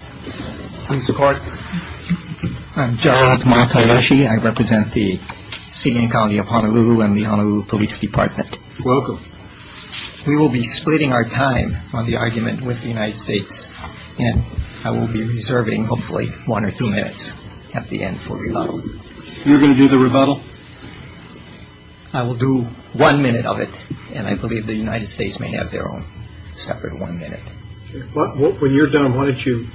Mr. Clark. I'm Gerald Matayoshi. I represent the City and County of Honolulu and the Honolulu Police Department. Welcome. We will be splitting our time on the argument with the United States and I will be reserving hopefully one or two minutes at the end for rebuttal. You're going to do the rebuttal? I will do one minute of it and I believe the United States may have their own separate one minute. When you're done, why don't you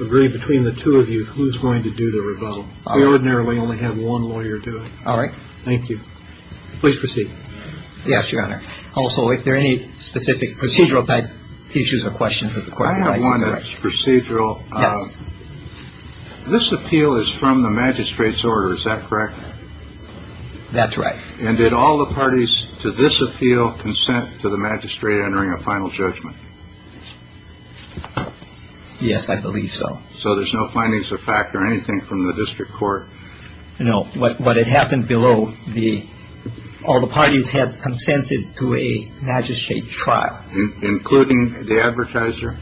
agree between the two of you who's going to do the rebuttal. We ordinarily only have one lawyer do it. All right. Thank you. Please proceed. Yes, Your Honor. Also, if there are any specific procedural type issues or questions of the court, I'd like to address. I have one that's procedural. Yes. This appeal is from the magistrate's order. Is that correct? That's right. And did all the parties to this appeal consent to the magistrate entering a final judgment? Yes, I believe so. So there's no findings of fact or anything from the district court? No. What had happened below, all the parties had consented to a magistrate trial. Including the advertiser?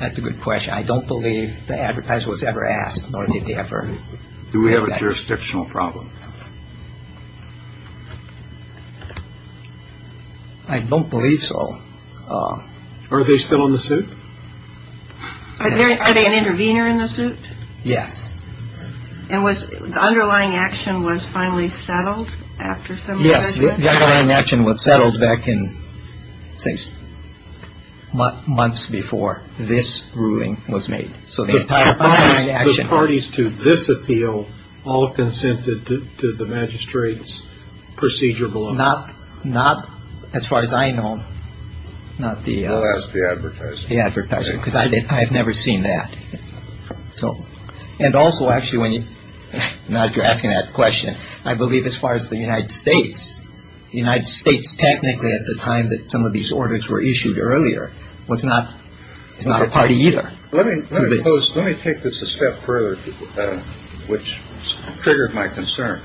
That's a good question. I don't believe the advertiser was ever asked, nor did they ever. Do we have a jurisdictional problem? I don't believe so. Are they still in the suit? Are they an intervener in the suit? Yes. And was the underlying action was finally settled after some of the judgment? The underlying action was settled back in, say, months before this ruling was made. So the entire underlying action. The parties to this appeal all consented to the magistrate's procedural order? Not as far as I know. Well, ask the advertiser. The advertiser, because I have never seen that. So and also, actually, when you're asking that question, I believe as far as the United States, the United States technically at the time that some of these orders were issued earlier was not it's not a party either. Let me let me take this a step further, which triggered my concern.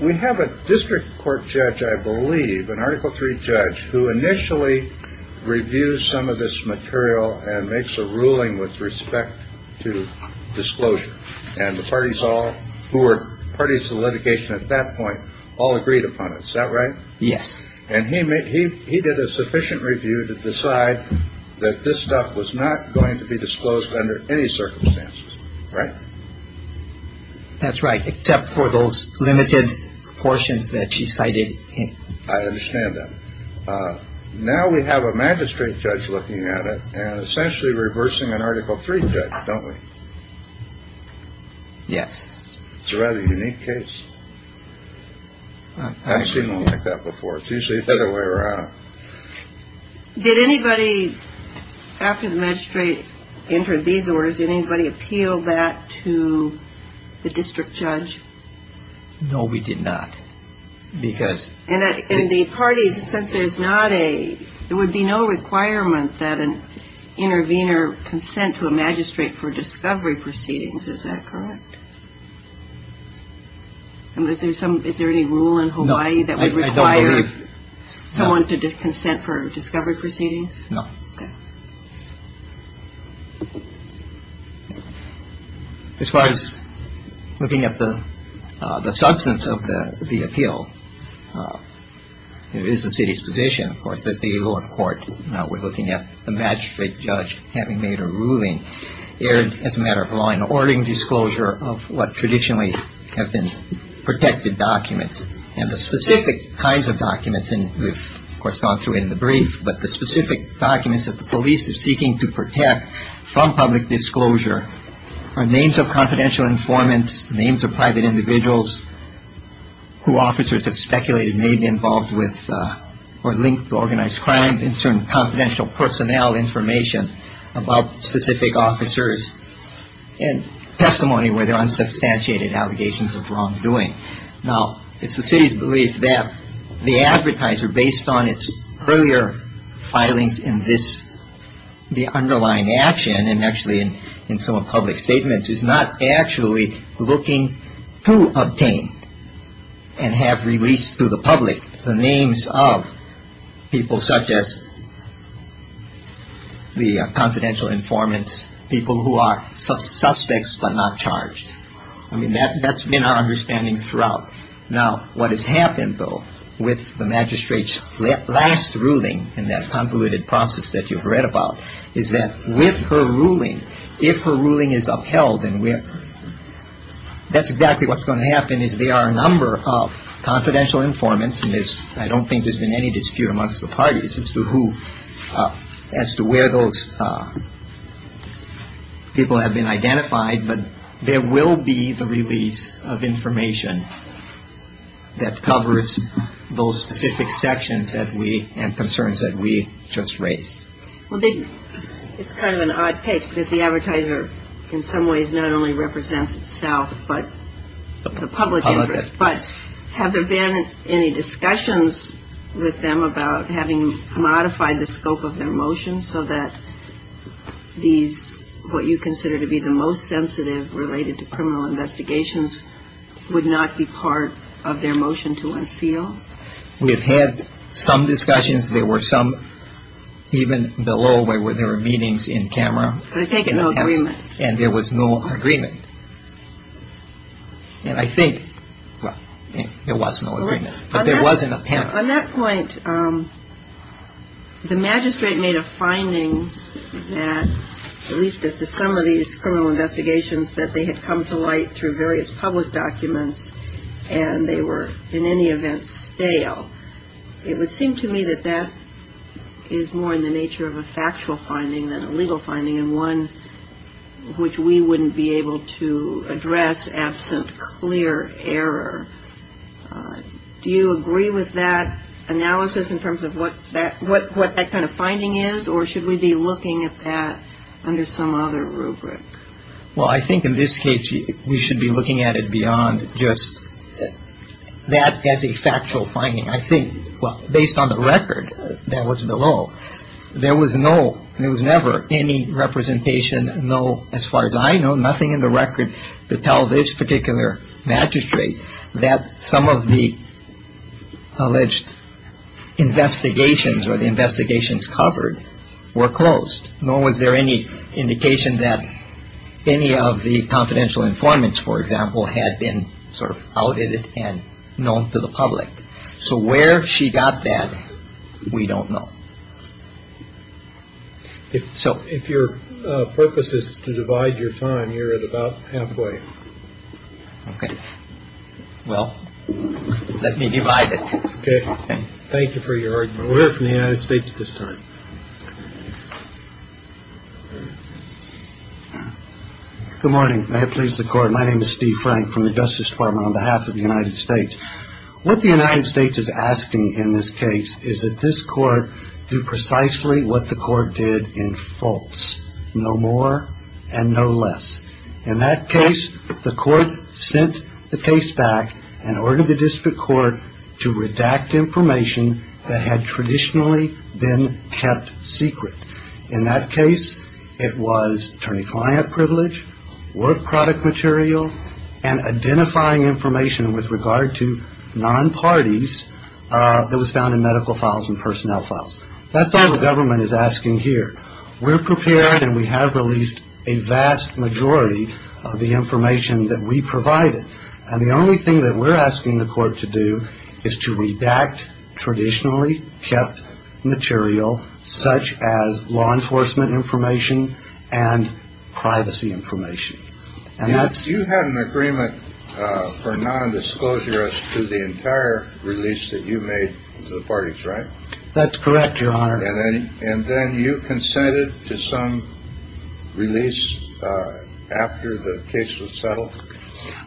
We have a district court judge, I believe, an article three judge, who initially reviews some of this material and makes a ruling with respect to disclosure. And the parties all who were parties to litigation at that point all agreed upon it. Is that right? Yes. And he made he he did a sufficient review to decide that this stuff was not going to be disclosed under any circumstances. Right. That's right. Except for those limited portions that she cited. I understand that. Now we have a magistrate judge looking at it and essentially reversing an article three. Don't we? Yes. It's a rather unique case. I've seen that before. Did anybody after the magistrate entered these orders, did anybody appeal that to the district judge? No, we did not. Because in the parties, since there's not a there would be no requirement that an intervener consent to a magistrate for discovery proceedings. Is that correct? Is there some is there any rule in Hawaii that requires someone to consent for discovery proceedings? No. As far as looking at the substance of the appeal, it is the city's position, of course, that the lower court was looking at the magistrate judge having made a ruling as a matter of law in ordering disclosure of what traditionally have been protected documents and the specific kinds of documents. And we've gone through it in the brief. But the specific documents that the police is seeking to protect from public disclosure are names of confidential informants, names of private individuals who officers have speculated may be involved with or linked to organized crime and certain confidential personnel information about specific officers and testimony where there are unsubstantiated allegations of wrongdoing. Now, it's the city's belief that the advertiser, based on its earlier filings in this the underlying action and actually in some public statements, is not actually looking to obtain and have released to the public the names of people such as the confidential informants, people who are suspects but not charged. I mean, that's been our understanding throughout. Now, what has happened, though, with the magistrate's last ruling in that convoluted process that you've read about is that with her ruling, if her ruling is upheld and we have that's exactly what's going to happen is there are a number of confidential informants. And I don't think there's been any dispute amongst the parties as to who, as to where those people have been identified. But there will be the release of information that covers those specific sections and concerns that we just raised. Well, it's kind of an odd case because the advertiser in some ways not only represents itself but the public interest. But have there been any discussions with them about having modified the scope of their motions so that these what you consider to be the most sensitive related to criminal investigations would not be part of their motion to unseal? We have had some discussions. There were some even below where there were meetings in camera. But there was no agreement. And there was no agreement. And I think there was no agreement. But there was an attempt. On that point, the magistrate made a finding that at least as to some of these criminal investigations that they had come to light through various public documents and they were in any event stale. It would seem to me that that is more in the nature of a factual finding than a legal finding and one which we wouldn't be able to address absent clear error. Do you agree with that analysis in terms of what that kind of finding is or should we be looking at that under some other rubric? Well, I think in this case we should be looking at it beyond just that as a factual finding. I think based on the record that was below, there was no, there was never any representation, no, as far as I know, nothing in the record to tell this particular magistrate that some of the alleged investigations or the investigations covered were closed. Nor was there any indication that any of the confidential informants, for example, had been sort of outed and known to the public. So where she got that, we don't know. So if your purpose is to divide your time, you're at about halfway. Well, let me divide it. Thank you for your argument. We'll hear from the United States at this time. Good morning. May it please the Court. My name is Steve Frank from the Justice Department on behalf of the United States. What the United States is asking in this case is that this Court do precisely what the Court did in false. No more and no less. In that case, the Court sent the case back and ordered the district court to redact information that had traditionally been kept secret. In that case, it was attorney-client privilege, work product material, and identifying information with regard to non-parties that was found in medical files and personnel files. That's all the government is asking here. We're prepared and we have released a vast majority of the information that we provided. And the only thing that we're asking the Court to do is to redact traditionally kept material, such as law enforcement information and privacy information. You had an agreement for non-disclosure as to the entire release that you made to the parties, right? That's correct, Your Honor. And then you consented to some release after the case was settled?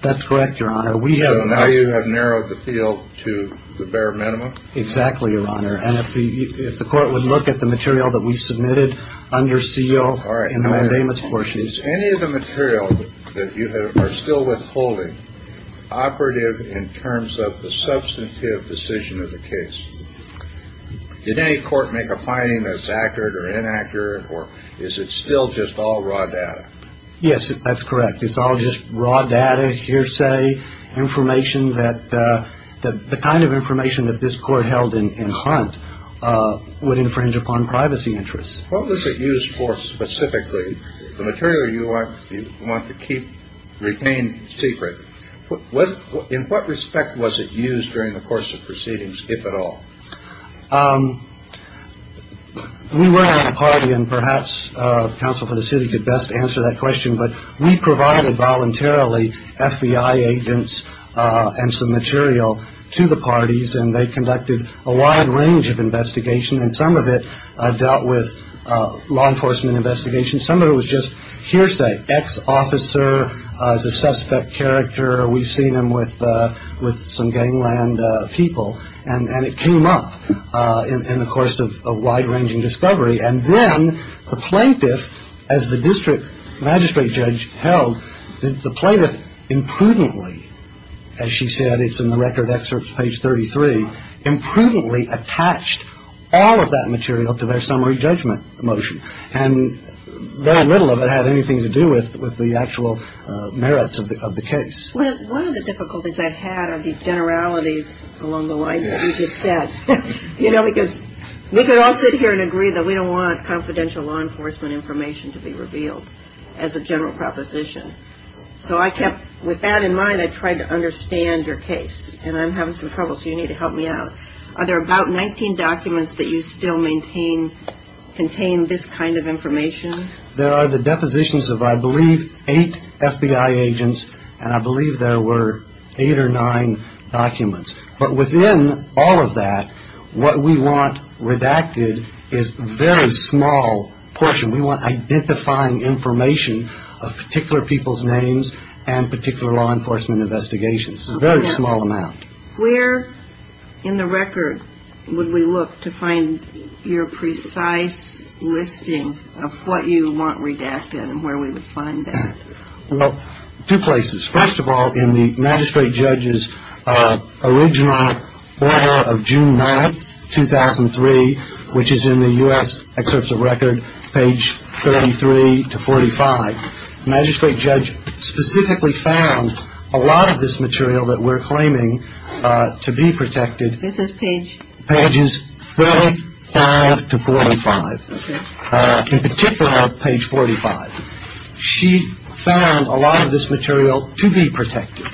That's correct, Your Honor. So now you have narrowed the field to the bare minimum? Exactly, Your Honor. And if the Court would look at the material that we submitted under seal in the mandamus portions. Is any of the material that you have are still withholding operative in terms of the substantive decision of the case? Did any Court make a finding that's accurate or inaccurate, or is it still just all raw data? Yes, that's correct. It's all just raw data, hearsay, information that the kind of information that this Court held in Hunt would infringe upon privacy interests. What was it used for specifically, the material you want to keep retained secret? In what respect was it used during the course of proceedings, if at all? We were at a party, and perhaps counsel for the city could best answer that question. But we provided voluntarily FBI agents and some material to the parties, and they conducted a wide range of investigation. And some of it dealt with law enforcement investigation. Some of it was just hearsay. Ex-officer is a suspect character. We've seen him with some gangland people. And it came up in the course of a wide-ranging discovery. And then the plaintiff, as the district magistrate judge held, the plaintiff imprudently, as she said, it's in the record excerpt, page 33, imprudently attached all of that material to their summary judgment motion. And very little of it had anything to do with the actual merits of the case. One of the difficulties I've had are the generalities along the lines that you just said. You know, because we could all sit here and agree that we don't want confidential law enforcement information to be revealed as a general proposition. So I kept, with that in mind, I tried to understand your case. And I'm having some trouble, so you need to help me out. Are there about 19 documents that you still maintain contain this kind of information? There are the depositions of, I believe, eight FBI agents. And I believe there were eight or nine documents. But within all of that, what we want redacted is a very small portion. We want identifying information of particular people's names and particular law enforcement investigations, a very small amount. Where in the record would we look to find your precise listing of what you want redacted and where we would find that? Well, two places. First of all, in the magistrate judge's original order of June 9th, 2003, which is in the U.S. Excerpts of Record, page 33 to 45, the magistrate judge specifically found a lot of this material that we're claiming to be protected. This is page? Pages 35 to 45. In particular, page 45. She found a lot of this material to be protected.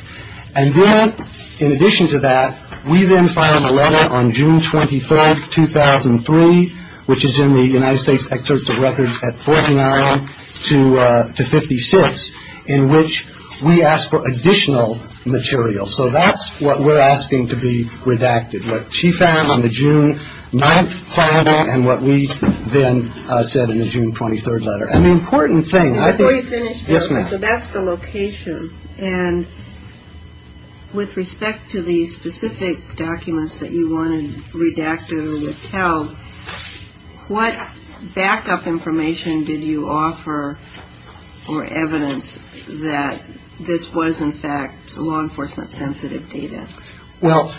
And then, in addition to that, we then filed a letter on June 24th, 2003, which is in the United States Excerpts of Record at 49 to 56, in which we asked for additional material. So that's what we're asking to be redacted. What she found on the June 9th filing and what we then said in the June 23rd letter. An important thing. Before you finish. Yes, ma'am. So that's the location. And with respect to the specific documents that you wanted redacted or withheld, what backup information did you offer or evidence that this was, in fact, law enforcement sensitive data? Well,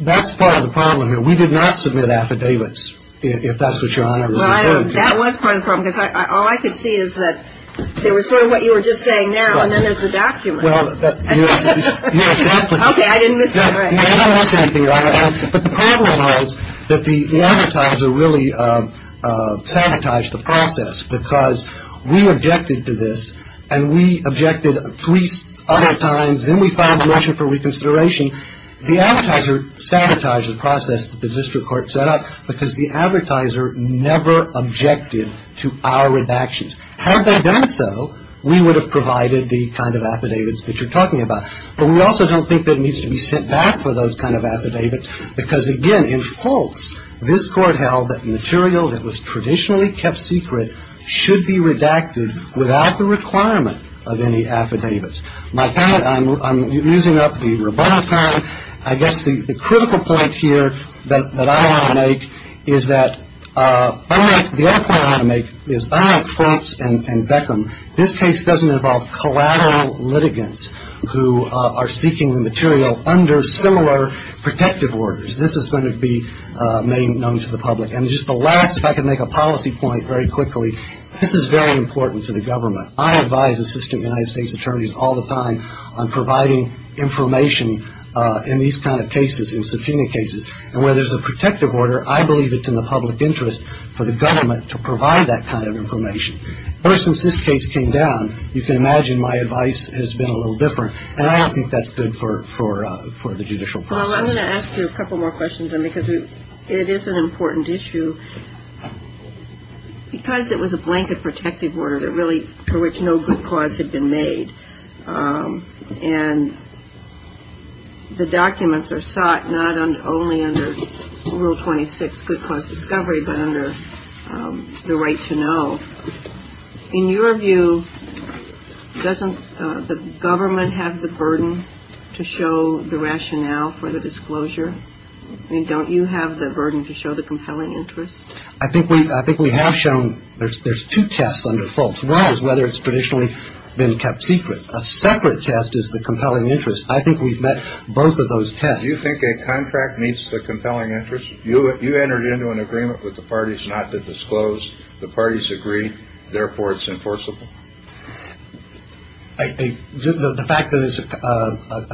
that's part of the problem here. We did not submit affidavits, if that's what Your Honor was referring to. That was part of the problem, because all I could see is that there was sort of what you were just saying now, and then there's the documents. Well, that's exactly. Okay. I didn't miss that, right. No, that's exactly right. But the problem was that the advertiser really sanitized the process, because we objected to this and we objected three other times. Then we filed a motion for reconsideration. The advertiser sanitized the process that the district court set up because the advertiser never objected to our redactions. Had they done so, we would have provided the kind of affidavits that you're talking about. But we also don't think that needs to be sent back for those kind of affidavits, because, again, in false, this Court held that material that was traditionally kept secret should be redacted without the requirement of any affidavits. I'm using up the rebuttal time. I guess the critical point here that I want to make is that the other point I want to make is by Franks and Beckham, this case doesn't involve collateral litigants who are seeking the material under similar protective orders. This is going to be made known to the public. And just the last, if I could make a policy point very quickly, this is very important to the government. I advise assistant United States attorneys all the time on providing information in these kind of cases, in subpoena cases. And where there's a protective order, I believe it's in the public interest for the government to provide that kind of information. Ever since this case came down, you can imagine my advice has been a little different. And I don't think that's good for the judicial process. Well, I'm going to ask you a couple more questions, then, because it is an important issue. Because it was a blanket protective order, really, for which no good cause had been made, and the documents are sought not only under Rule 26, good cause discovery, but under the right to know. In your view, doesn't the government have the burden to show the rationale for the disclosure? I mean, don't you have the burden to show the compelling interest? I think we have shown there's two tests under false. One is whether it's traditionally been kept secret. A separate test is the compelling interest. I think we've met both of those tests. Do you think a contract meets the compelling interest? You entered into an agreement with the parties not to disclose. The parties agreed. Therefore, it's enforceable. The fact that it's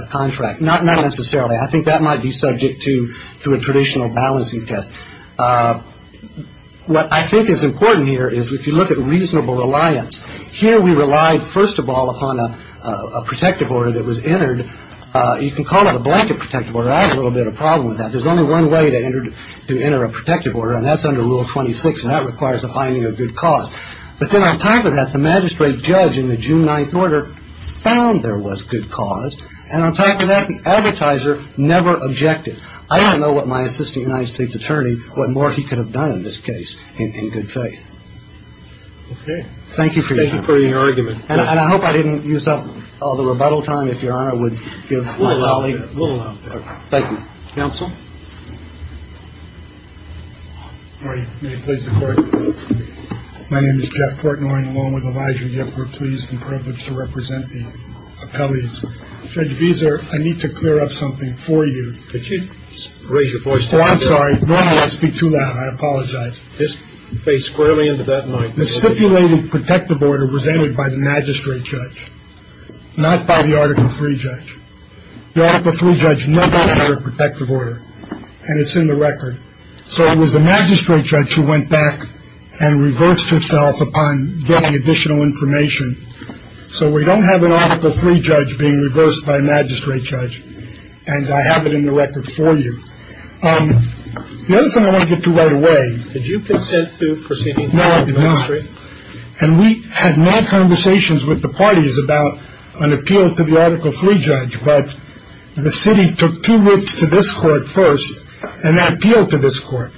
a contract, not necessarily. I think that might be subject to a traditional balancing test. What I think is important here is if you look at reasonable reliance. Here we relied, first of all, upon a protective order that was entered. You can call it a blanket protective order. I have a little bit of a problem with that. There's only one way to enter a protective order, and that's under Rule 26, and that requires a finding of good cause. But then on top of that, the magistrate judge in the June 9th order found there was good cause. And on top of that, the advertiser never objected. I don't know what my assistant United States attorney, what more he could have done in this case in good faith. Okay. Thank you for your argument. And I hope I didn't use up all the rebuttal time. If Your Honor would give a little out there. A little out there. Thank you. Counsel. All right. May it please the Court. My name is Jeff Portnoy, along with Elijah Yip. We're pleased and privileged to represent the appellees. Judge Gieser, I need to clear up something for you. Could you raise your voice? Oh, I'm sorry. Normally I speak too loud. I apologize. Just face squarely into that mic. The stipulated protective order was entered by the magistrate judge, not by the Article III judge. The Article III judge never entered a protective order, and it's in the record. So it was the magistrate judge who went back and reversed herself upon getting additional information. So we don't have an Article III judge being reversed by a magistrate judge. And I have it in the record for you. The other thing I want to get to right away. Did you consent to proceeding? No, I did not. And we had mad conversations with the parties about an appeal to the Article III judge. But the city took two weeks to this court first and appealed to this court.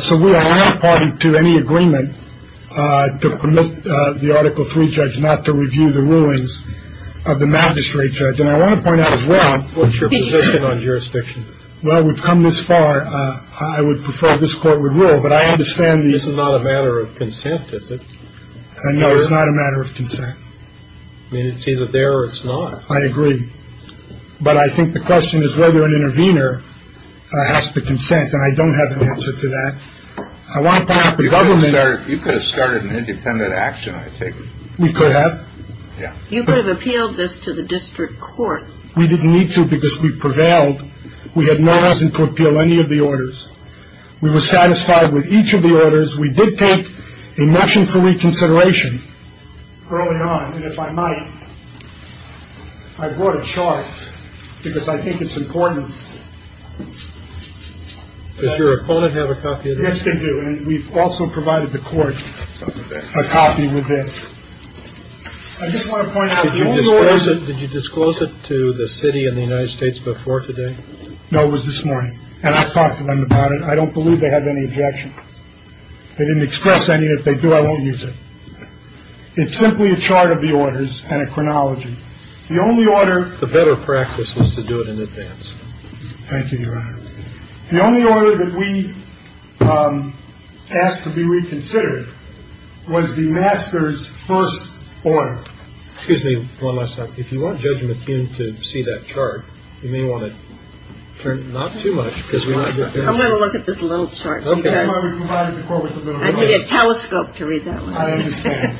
So we are not party to any agreement to permit the Article III judge not to review the rulings of the magistrate judge. And I want to point out as well. What's your position on jurisdiction? Well, we've come this far. I would prefer this court would rule. But I understand. This is not a matter of consent, is it? No, it's not a matter of consent. I mean, it's either there or it's not. I agree. But I think the question is whether an intervener has to consent. And I don't have an answer to that. I want to point out the government. You could have started an independent action, I take it. We could have. Yeah. You could have appealed this to the district court. We didn't need to because we prevailed. We had no reason to appeal any of the orders. We were satisfied with each of the orders. We did take a motion for reconsideration early on. And if I might, I brought a chart because I think it's important. Does your opponent have a copy of this? Yes, they do. And we've also provided the court a copy with this. I just want to point out the only order. Did you disclose it to the city and the United States before today? No, it was this morning. And I've talked to them about it. I don't believe they have any objection. They didn't express any. If they do, I won't use it. It's simply a chart of the orders and a chronology. The only order. The better practice was to do it in advance. Thank you, Your Honor. The only order that we asked to be reconsidered was the master's first order. Excuse me one last time. If you want Judge McKeon to see that chart, you may want to turn it not too much. I'm going to look at this little chart. I need a telescope to read that one. I understand.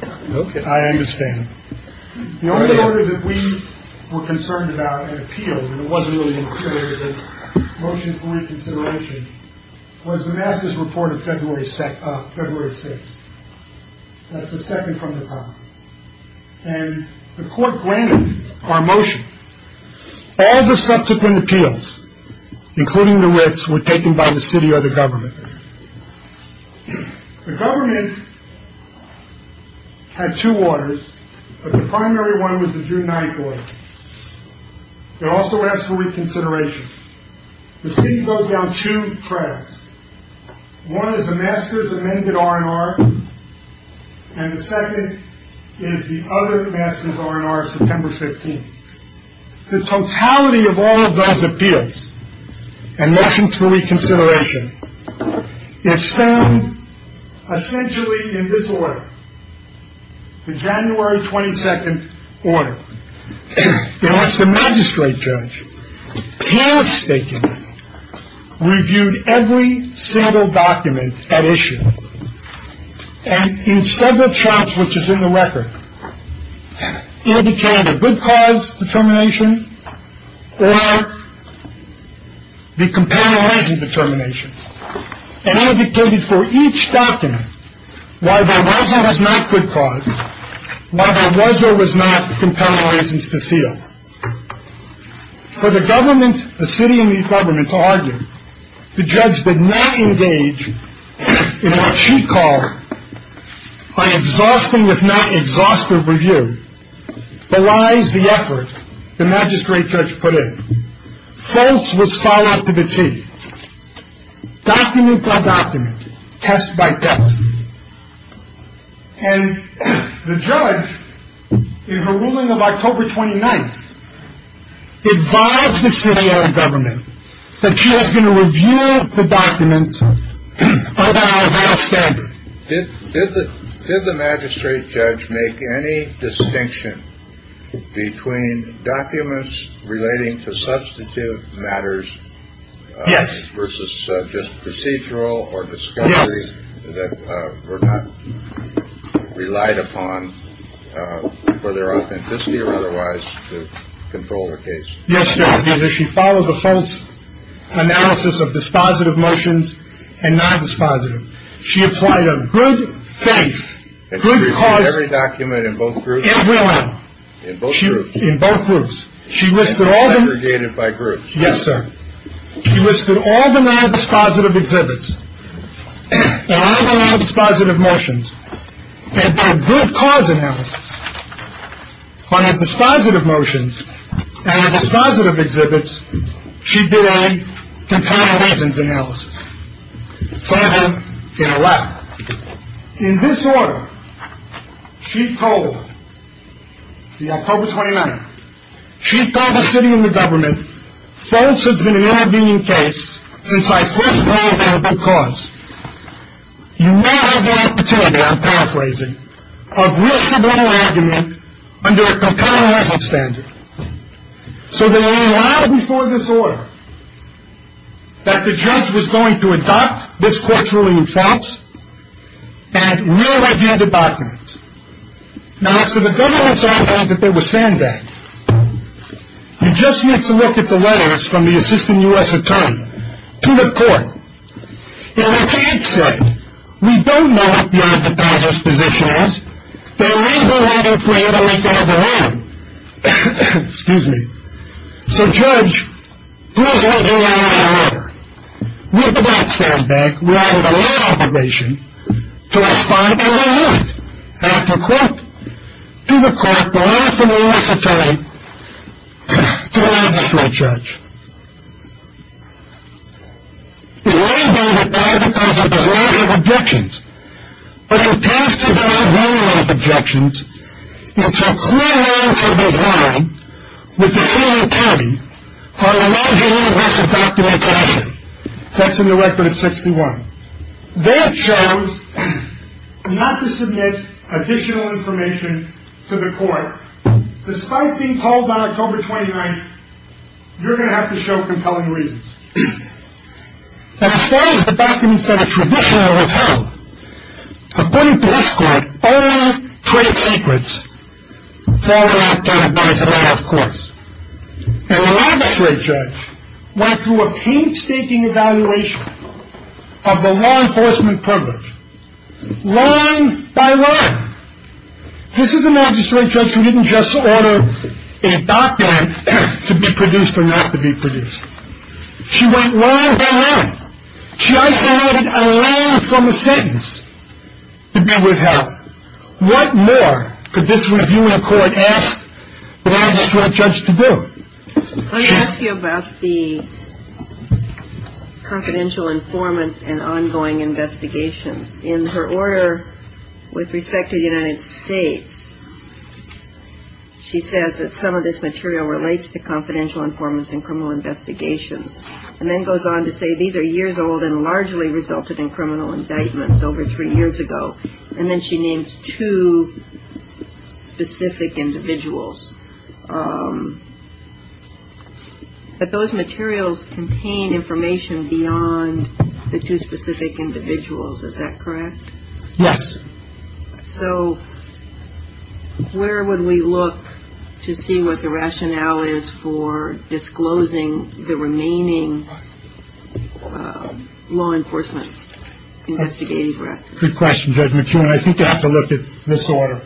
I understand. The only order that we were concerned about and appealed, and it wasn't really an appeal, it was a motion for reconsideration, was the master's report of February 6th. That's the second from the top. And the court granted our motion. All the subsequent appeals, including the wits, were taken by the city or the government. The government had two orders, but the primary one was the June 9th order. It also asked for reconsideration. The city wrote down two tracks. One is the master's amended R&R, and the second is the other master's R&R, September 15th. The totality of all of those appeals and motions for reconsideration is found essentially in this order, the January 22nd order. It was the magistrate judge, carestakingly, reviewed every single document at issue, and in several charts, which is in the record, indicated a good cause determination or the compelling reasons determination, and indicated for each document why there was or was not good cause, why there was or was not compelling reasons to seal. For the government, the city and the government to argue, the judge did not engage in what she called by exhausting, if not exhaustive review, belies the effort the magistrate judge put in. False was filed up to the T. Document by document, test by test. And the judge, in her ruling of October 29th, advised the city and the government that she was going to review the document by the hour of that standard. Did the magistrate judge make any distinction between documents relating to substantive matters versus just procedural or discovery that were not relied upon for their authenticity or otherwise to control the case? Yes, sir. She followed the false analysis of dispositive motions and non-dispositive. She applied a good faith, good cause. And reviewed every document in both groups? Every one. In both groups? In both groups. And aggregated by groups? Yes, sir. She listed all the non-dispositive exhibits and all the non-dispositive motions and their good cause analysis. On the dispositive motions and the dispositive exhibits, she did a comparison analysis. Seven in a row. In this order, she called, the October 29th, she called the city and the government, false has been an intervening case since I first called on a good cause. You now have the opportunity, I'm paraphrasing, of real civil argument under a concurrent result standard. So there were a lot before this order that the judge was going to adopt this court's ruling in false and real right-handed documents. Now, as to the government's argument that they were saying that, you just need to look at the letters from the assistant U.S. attorney to the court. And the judge said, we don't know what the other dispositive's position is, but we've been waiting for you to make it over to them. Excuse me. So, judge, please let me write out a letter. With that sound back, we're out of the law obligation to respond to the court. After court, do the court the last of the U.S. attorney to the magistrate judge. It may be that that is because it does not have objections, but it appears to have no real objections, and it's a clear line for design with the city attorney on a larger U.S. adoptive action. That's in the record of 61. They chose not to submit additional information to the court. However, despite being called on October 29th, you're going to have to show compelling reasons. As far as the documents that are traditionally withheld, according to this court, all trade secrets fall into that category of course. And the magistrate judge went through a painstaking evaluation of the law enforcement privilege, line by line. This is a magistrate judge who didn't just order a document to be produced or not to be produced. She went line by line. She isolated a line from a sentence to be withheld. What more could this review in court ask the magistrate judge to do? Let me ask you about the confidential informants and ongoing investigations. In her order with respect to the United States, she says that some of this material relates to confidential informants and criminal investigations, and then goes on to say these are years old and largely resulted in criminal indictments over three years ago. And then she names two specific individuals. But those materials contain information beyond the two specific individuals. Is that correct? Yes. So where would we look to see what the rationale is for disclosing the remaining law enforcement investigative records? Good question, Judge McKeown. I think you have to look at this order.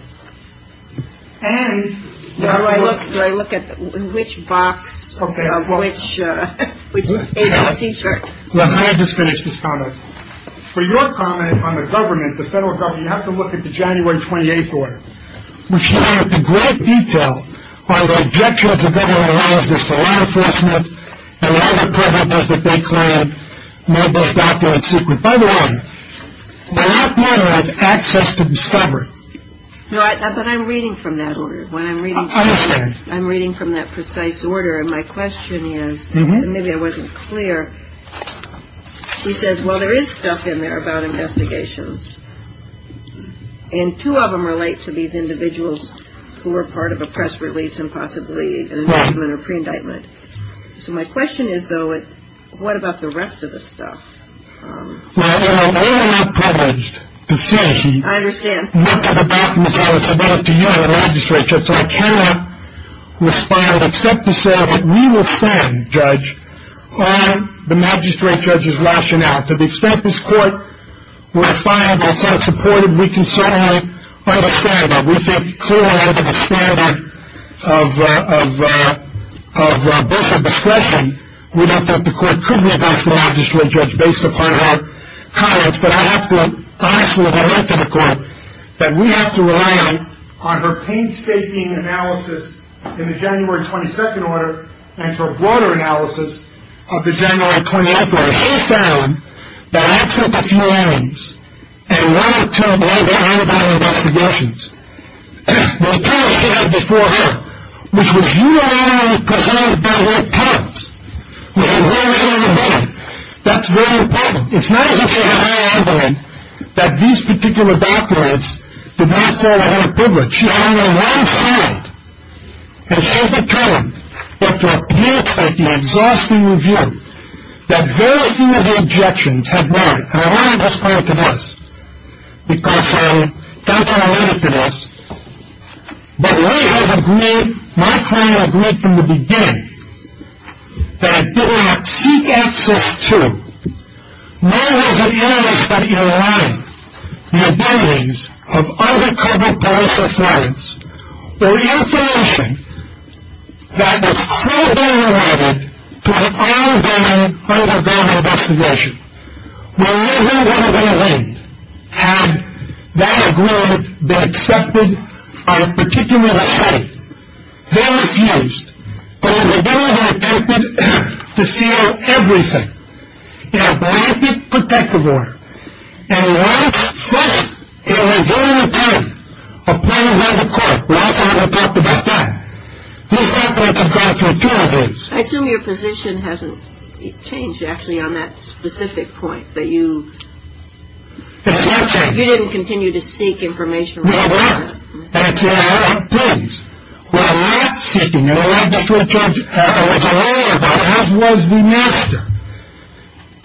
And do I look at which box of which agency chart? Let me just finish this comment. For your comment on the government, the federal government, you have to look at the January 28th order, which lists in great detail why the objection of the government allows this to law enforcement and why the government doesn't think they have no best document secret. By the way, that order has access to discovery. No, but I'm reading from that order. I understand. I'm reading from that precise order. And my question is, and maybe I wasn't clear, she says, well, there is stuff in there about investigations. And two of them relate to these individuals who were part of a press release and possibly an indictment or pre-indictment. So my question is, though, what about the rest of the stuff? Well, I am not privileged to say. I understand. Much of the documents are available to you in the magistrate court, so I cannot respond, except to say that we will stand, Judge, on the magistrate judge's rationale. To the extent this court were to find us unsupported, we can certainly understand that. We think clearly under the standard of discretion, we don't think the court could have asked for a magistrate judge based upon our comments. But I have to be honest with the rest of the court that we have to rely on her painstaking analysis in the January 22nd order and her broader analysis of the January 21st order. She found that except a few items and one or two of them related to investigations, the attorney stand before her, which was unilaterally presented by her parents, who were here right on the bed. That's very important. It's not as if they had no idea that these particular documents did not fall out of her privilege. She had only known one side and said that to her, but to appear at the exhausting review that very few of her objections had merit. And I want to describe it to this because I don't want to limit it to this, but we have agreed, my client agreed from the beginning, that it did not seek access to nor was it analyzed by either one, the abilities of undercover police officers or information that was so overrated to an ongoing, underground investigation. Whenever one of them went, had that agreement been accepted, or particularly the head, they refused. But in the beginning, they attempted to seal everything in a blanket protective order. And right from the very beginning, appointed by the court, we also haven't talked about that, I assume your position hasn't changed actually on that specific point, that you didn't continue to seek information. No, I didn't. We're not seeking it. We're not going to try to argue about it, as was the master.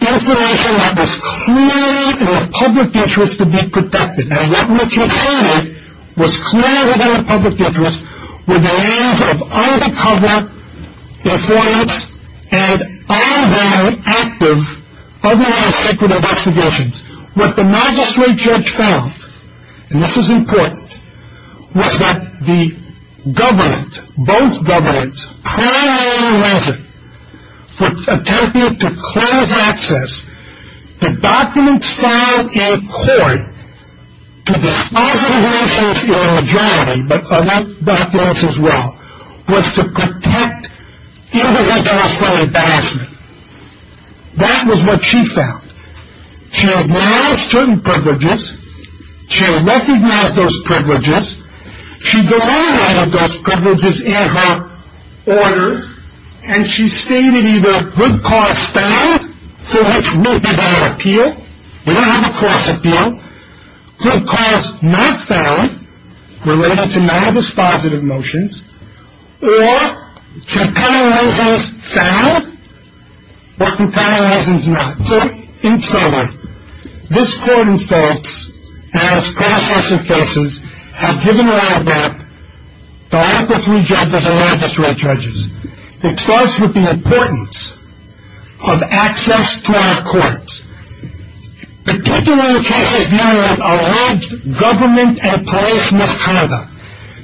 Information that was clearly in the public interest to be protected, and what we contained was clearly within the public interest, were the names of undercover informants and all their active, otherwise secret investigations. What the magistrate judge found, and this is important, was that the government, both governments, for attempting to close access to documents filed in court, to disclose information to the majority, but elect documents as well, was to protect individual from embarrassment. That was what she found. She acknowledged certain privileges. She recognized those privileges. She denied all of those privileges in her order, and she stated either good cause found, for which we did not appeal, we don't have a cross appeal, good cause not found, related to non-dispositive motions, or compelling reasons found, or compelling reasons not. So, in summary, this court, in fact, has cross-examined cases, has given a lab map to all three judges and magistrate judges. It starts with the importance of access to our courts. Particularly the cases now that allege government and police misconduct.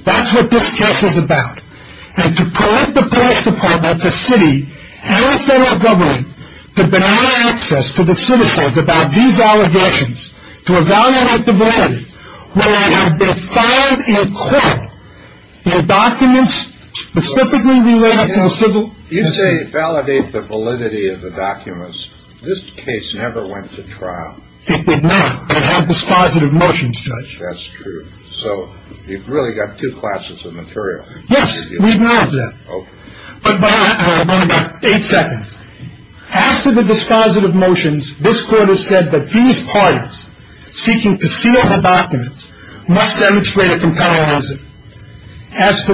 That's what this case is about. And to prevent the police department, the city, and the federal government from denying access to the citizens about these allegations, to evaluate the validity, when they have been filed in court, their documents specifically related to the civil. You say validate the validity of the documents. This case never went to trial. It did not. It had dispositive motions, Judge. That's true. So, you've really got two classes of material. Yes, we have that. But I want about eight seconds. After the dispositive motions, this court has said that these parties seeking to seal the documents must demonstrate a compelling reason. As to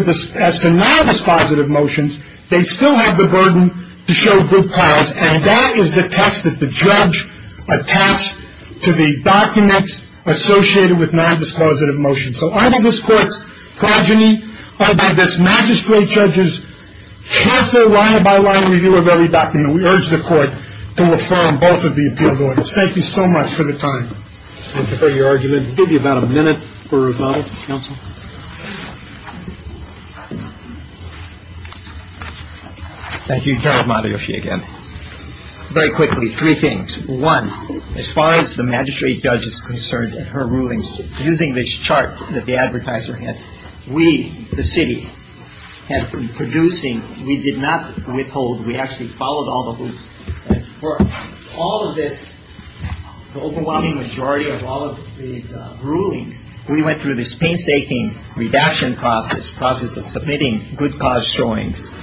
non-dispositive motions, they still have the burden to show good cause, and that is the test that the judge attached to the documents associated with non-dispositive motions. So, either this court's progeny or this magistrate judge's careful line-by-line review of every document, we urge the court to affirm both of the appeal orders. Thank you so much for the time. Thank you for your argument. We'll give you about a minute for rebuttal. Counsel? Thank you, General Matayoshi, again. Very quickly, three things. One, as far as the magistrate judge is concerned in her rulings, using this chart that the advertiser had, we, the city, have been producing. We did not withhold. We actually followed all the hoops. And for all of this, the overwhelming majority of all of these rulings, we went through this painstaking redaction process, process of submitting good cause showings.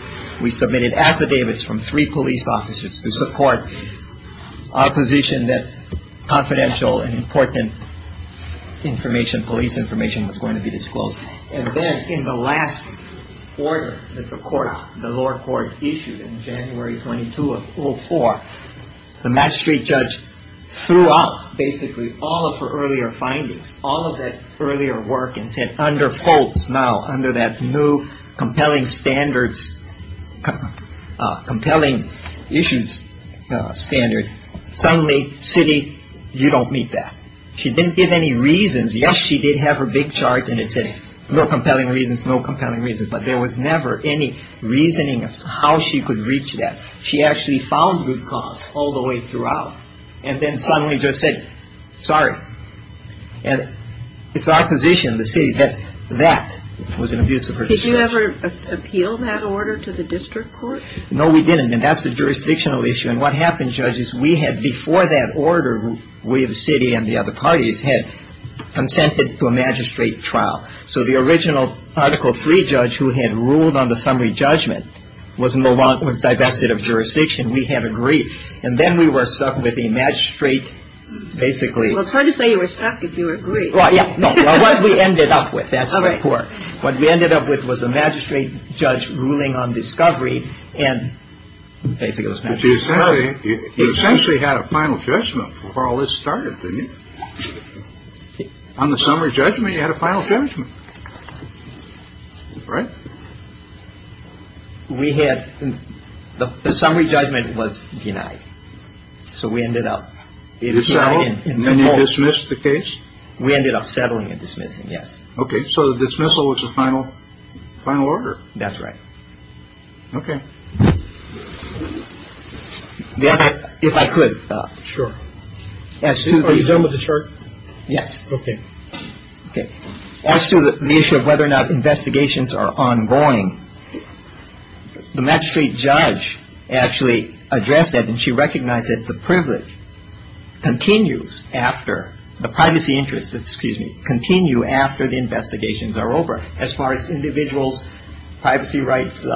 We submitted affidavits from three police officers to support opposition that confidential and important information, police information, was going to be disclosed. And then in the last order that the court, the lower court, issued in January 22 of 04, the magistrate judge threw out basically all of her earlier findings, all of that earlier work, and said, under folks now, under that new compelling standards, compelling issues standard, suddenly, city, you don't meet that. She didn't give any reasons. Yes, she did have her big chart, and it said no compelling reasons, no compelling reasons, but there was never any reasoning of how she could reach that. She actually found good cause all the way throughout, and then suddenly just said, sorry. And it's our position, the city, that that was an abuse of her discretion. Did you ever appeal that order to the district court? No, we didn't. And that's a jurisdictional issue. And what happened, judges, we had before that order, we, the city and the other parties, had consented to a magistrate trial. So the original Article III judge who had ruled on the summary judgment was no longer, was divested of jurisdiction. We had agreed. And then we were stuck with a magistrate basically. Well, it's hard to say you were stuck if you agree. Yeah. We ended up with that report. What we ended up with was a magistrate judge ruling on discovery. And basically, it was essentially you essentially had a final judgment for all this started. On the summary judgment, you had a final judgment. Right. We had the summary judgment was denied. So we ended up in the case. We ended up settling and dismissing. Yes. Okay. So the dismissal was a final final order. That's right. Okay. If I could. Sure. Are you done with the church? Yes. Okay. Okay. As to the issue of whether or not investigations are ongoing, the magistrate judge actually addressed that. And she recognized that the privilege continues after the privacy interests, excuse me, continue after the investigations are over. As far as individuals' privacy rights, you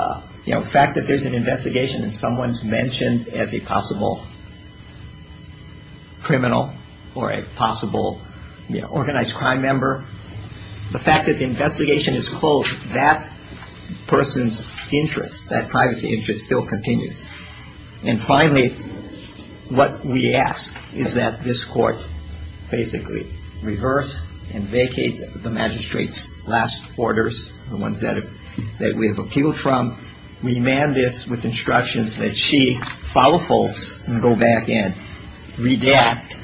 know, the fact that there's an investigation and someone's mentioned as a possible criminal or a possible organized crime member, the fact that the investigation is closed, that person's interest, that privacy interest still continues. And finally, what we ask is that this court basically reverse and vacate the magistrate's last orders, the ones that we have appealed from, remand this with instructions that she follow folks and go back and redact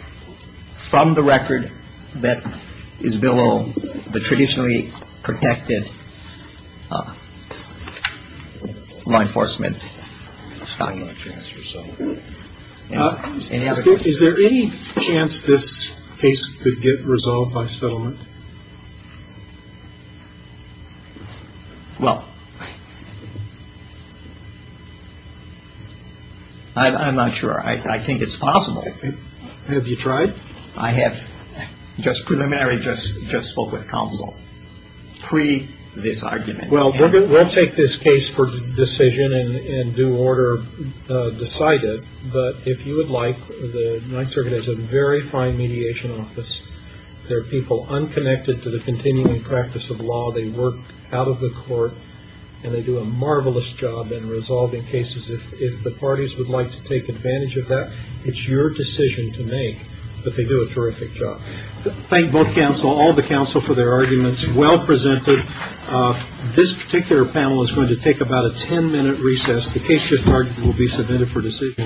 from the record Is there any chance this case could get resolved by settlement? Well, I'm not sure. I think it's possible. Have you tried? I have. Just preliminary, just spoke with counsel. Pre this argument. Well, we'll take this case for decision and due order decided. But if you would like, the Ninth Circuit has a very fine mediation office. They're people unconnected to the continuing practice of law. They work out of the court and they do a marvelous job in resolving cases. If the parties would like to take advantage of that, it's your decision to make. But they do a terrific job. Thank both counsel, all the counsel for their arguments. Well presented. This particular panel is going to take about a ten minute recess. The case will be submitted for decision.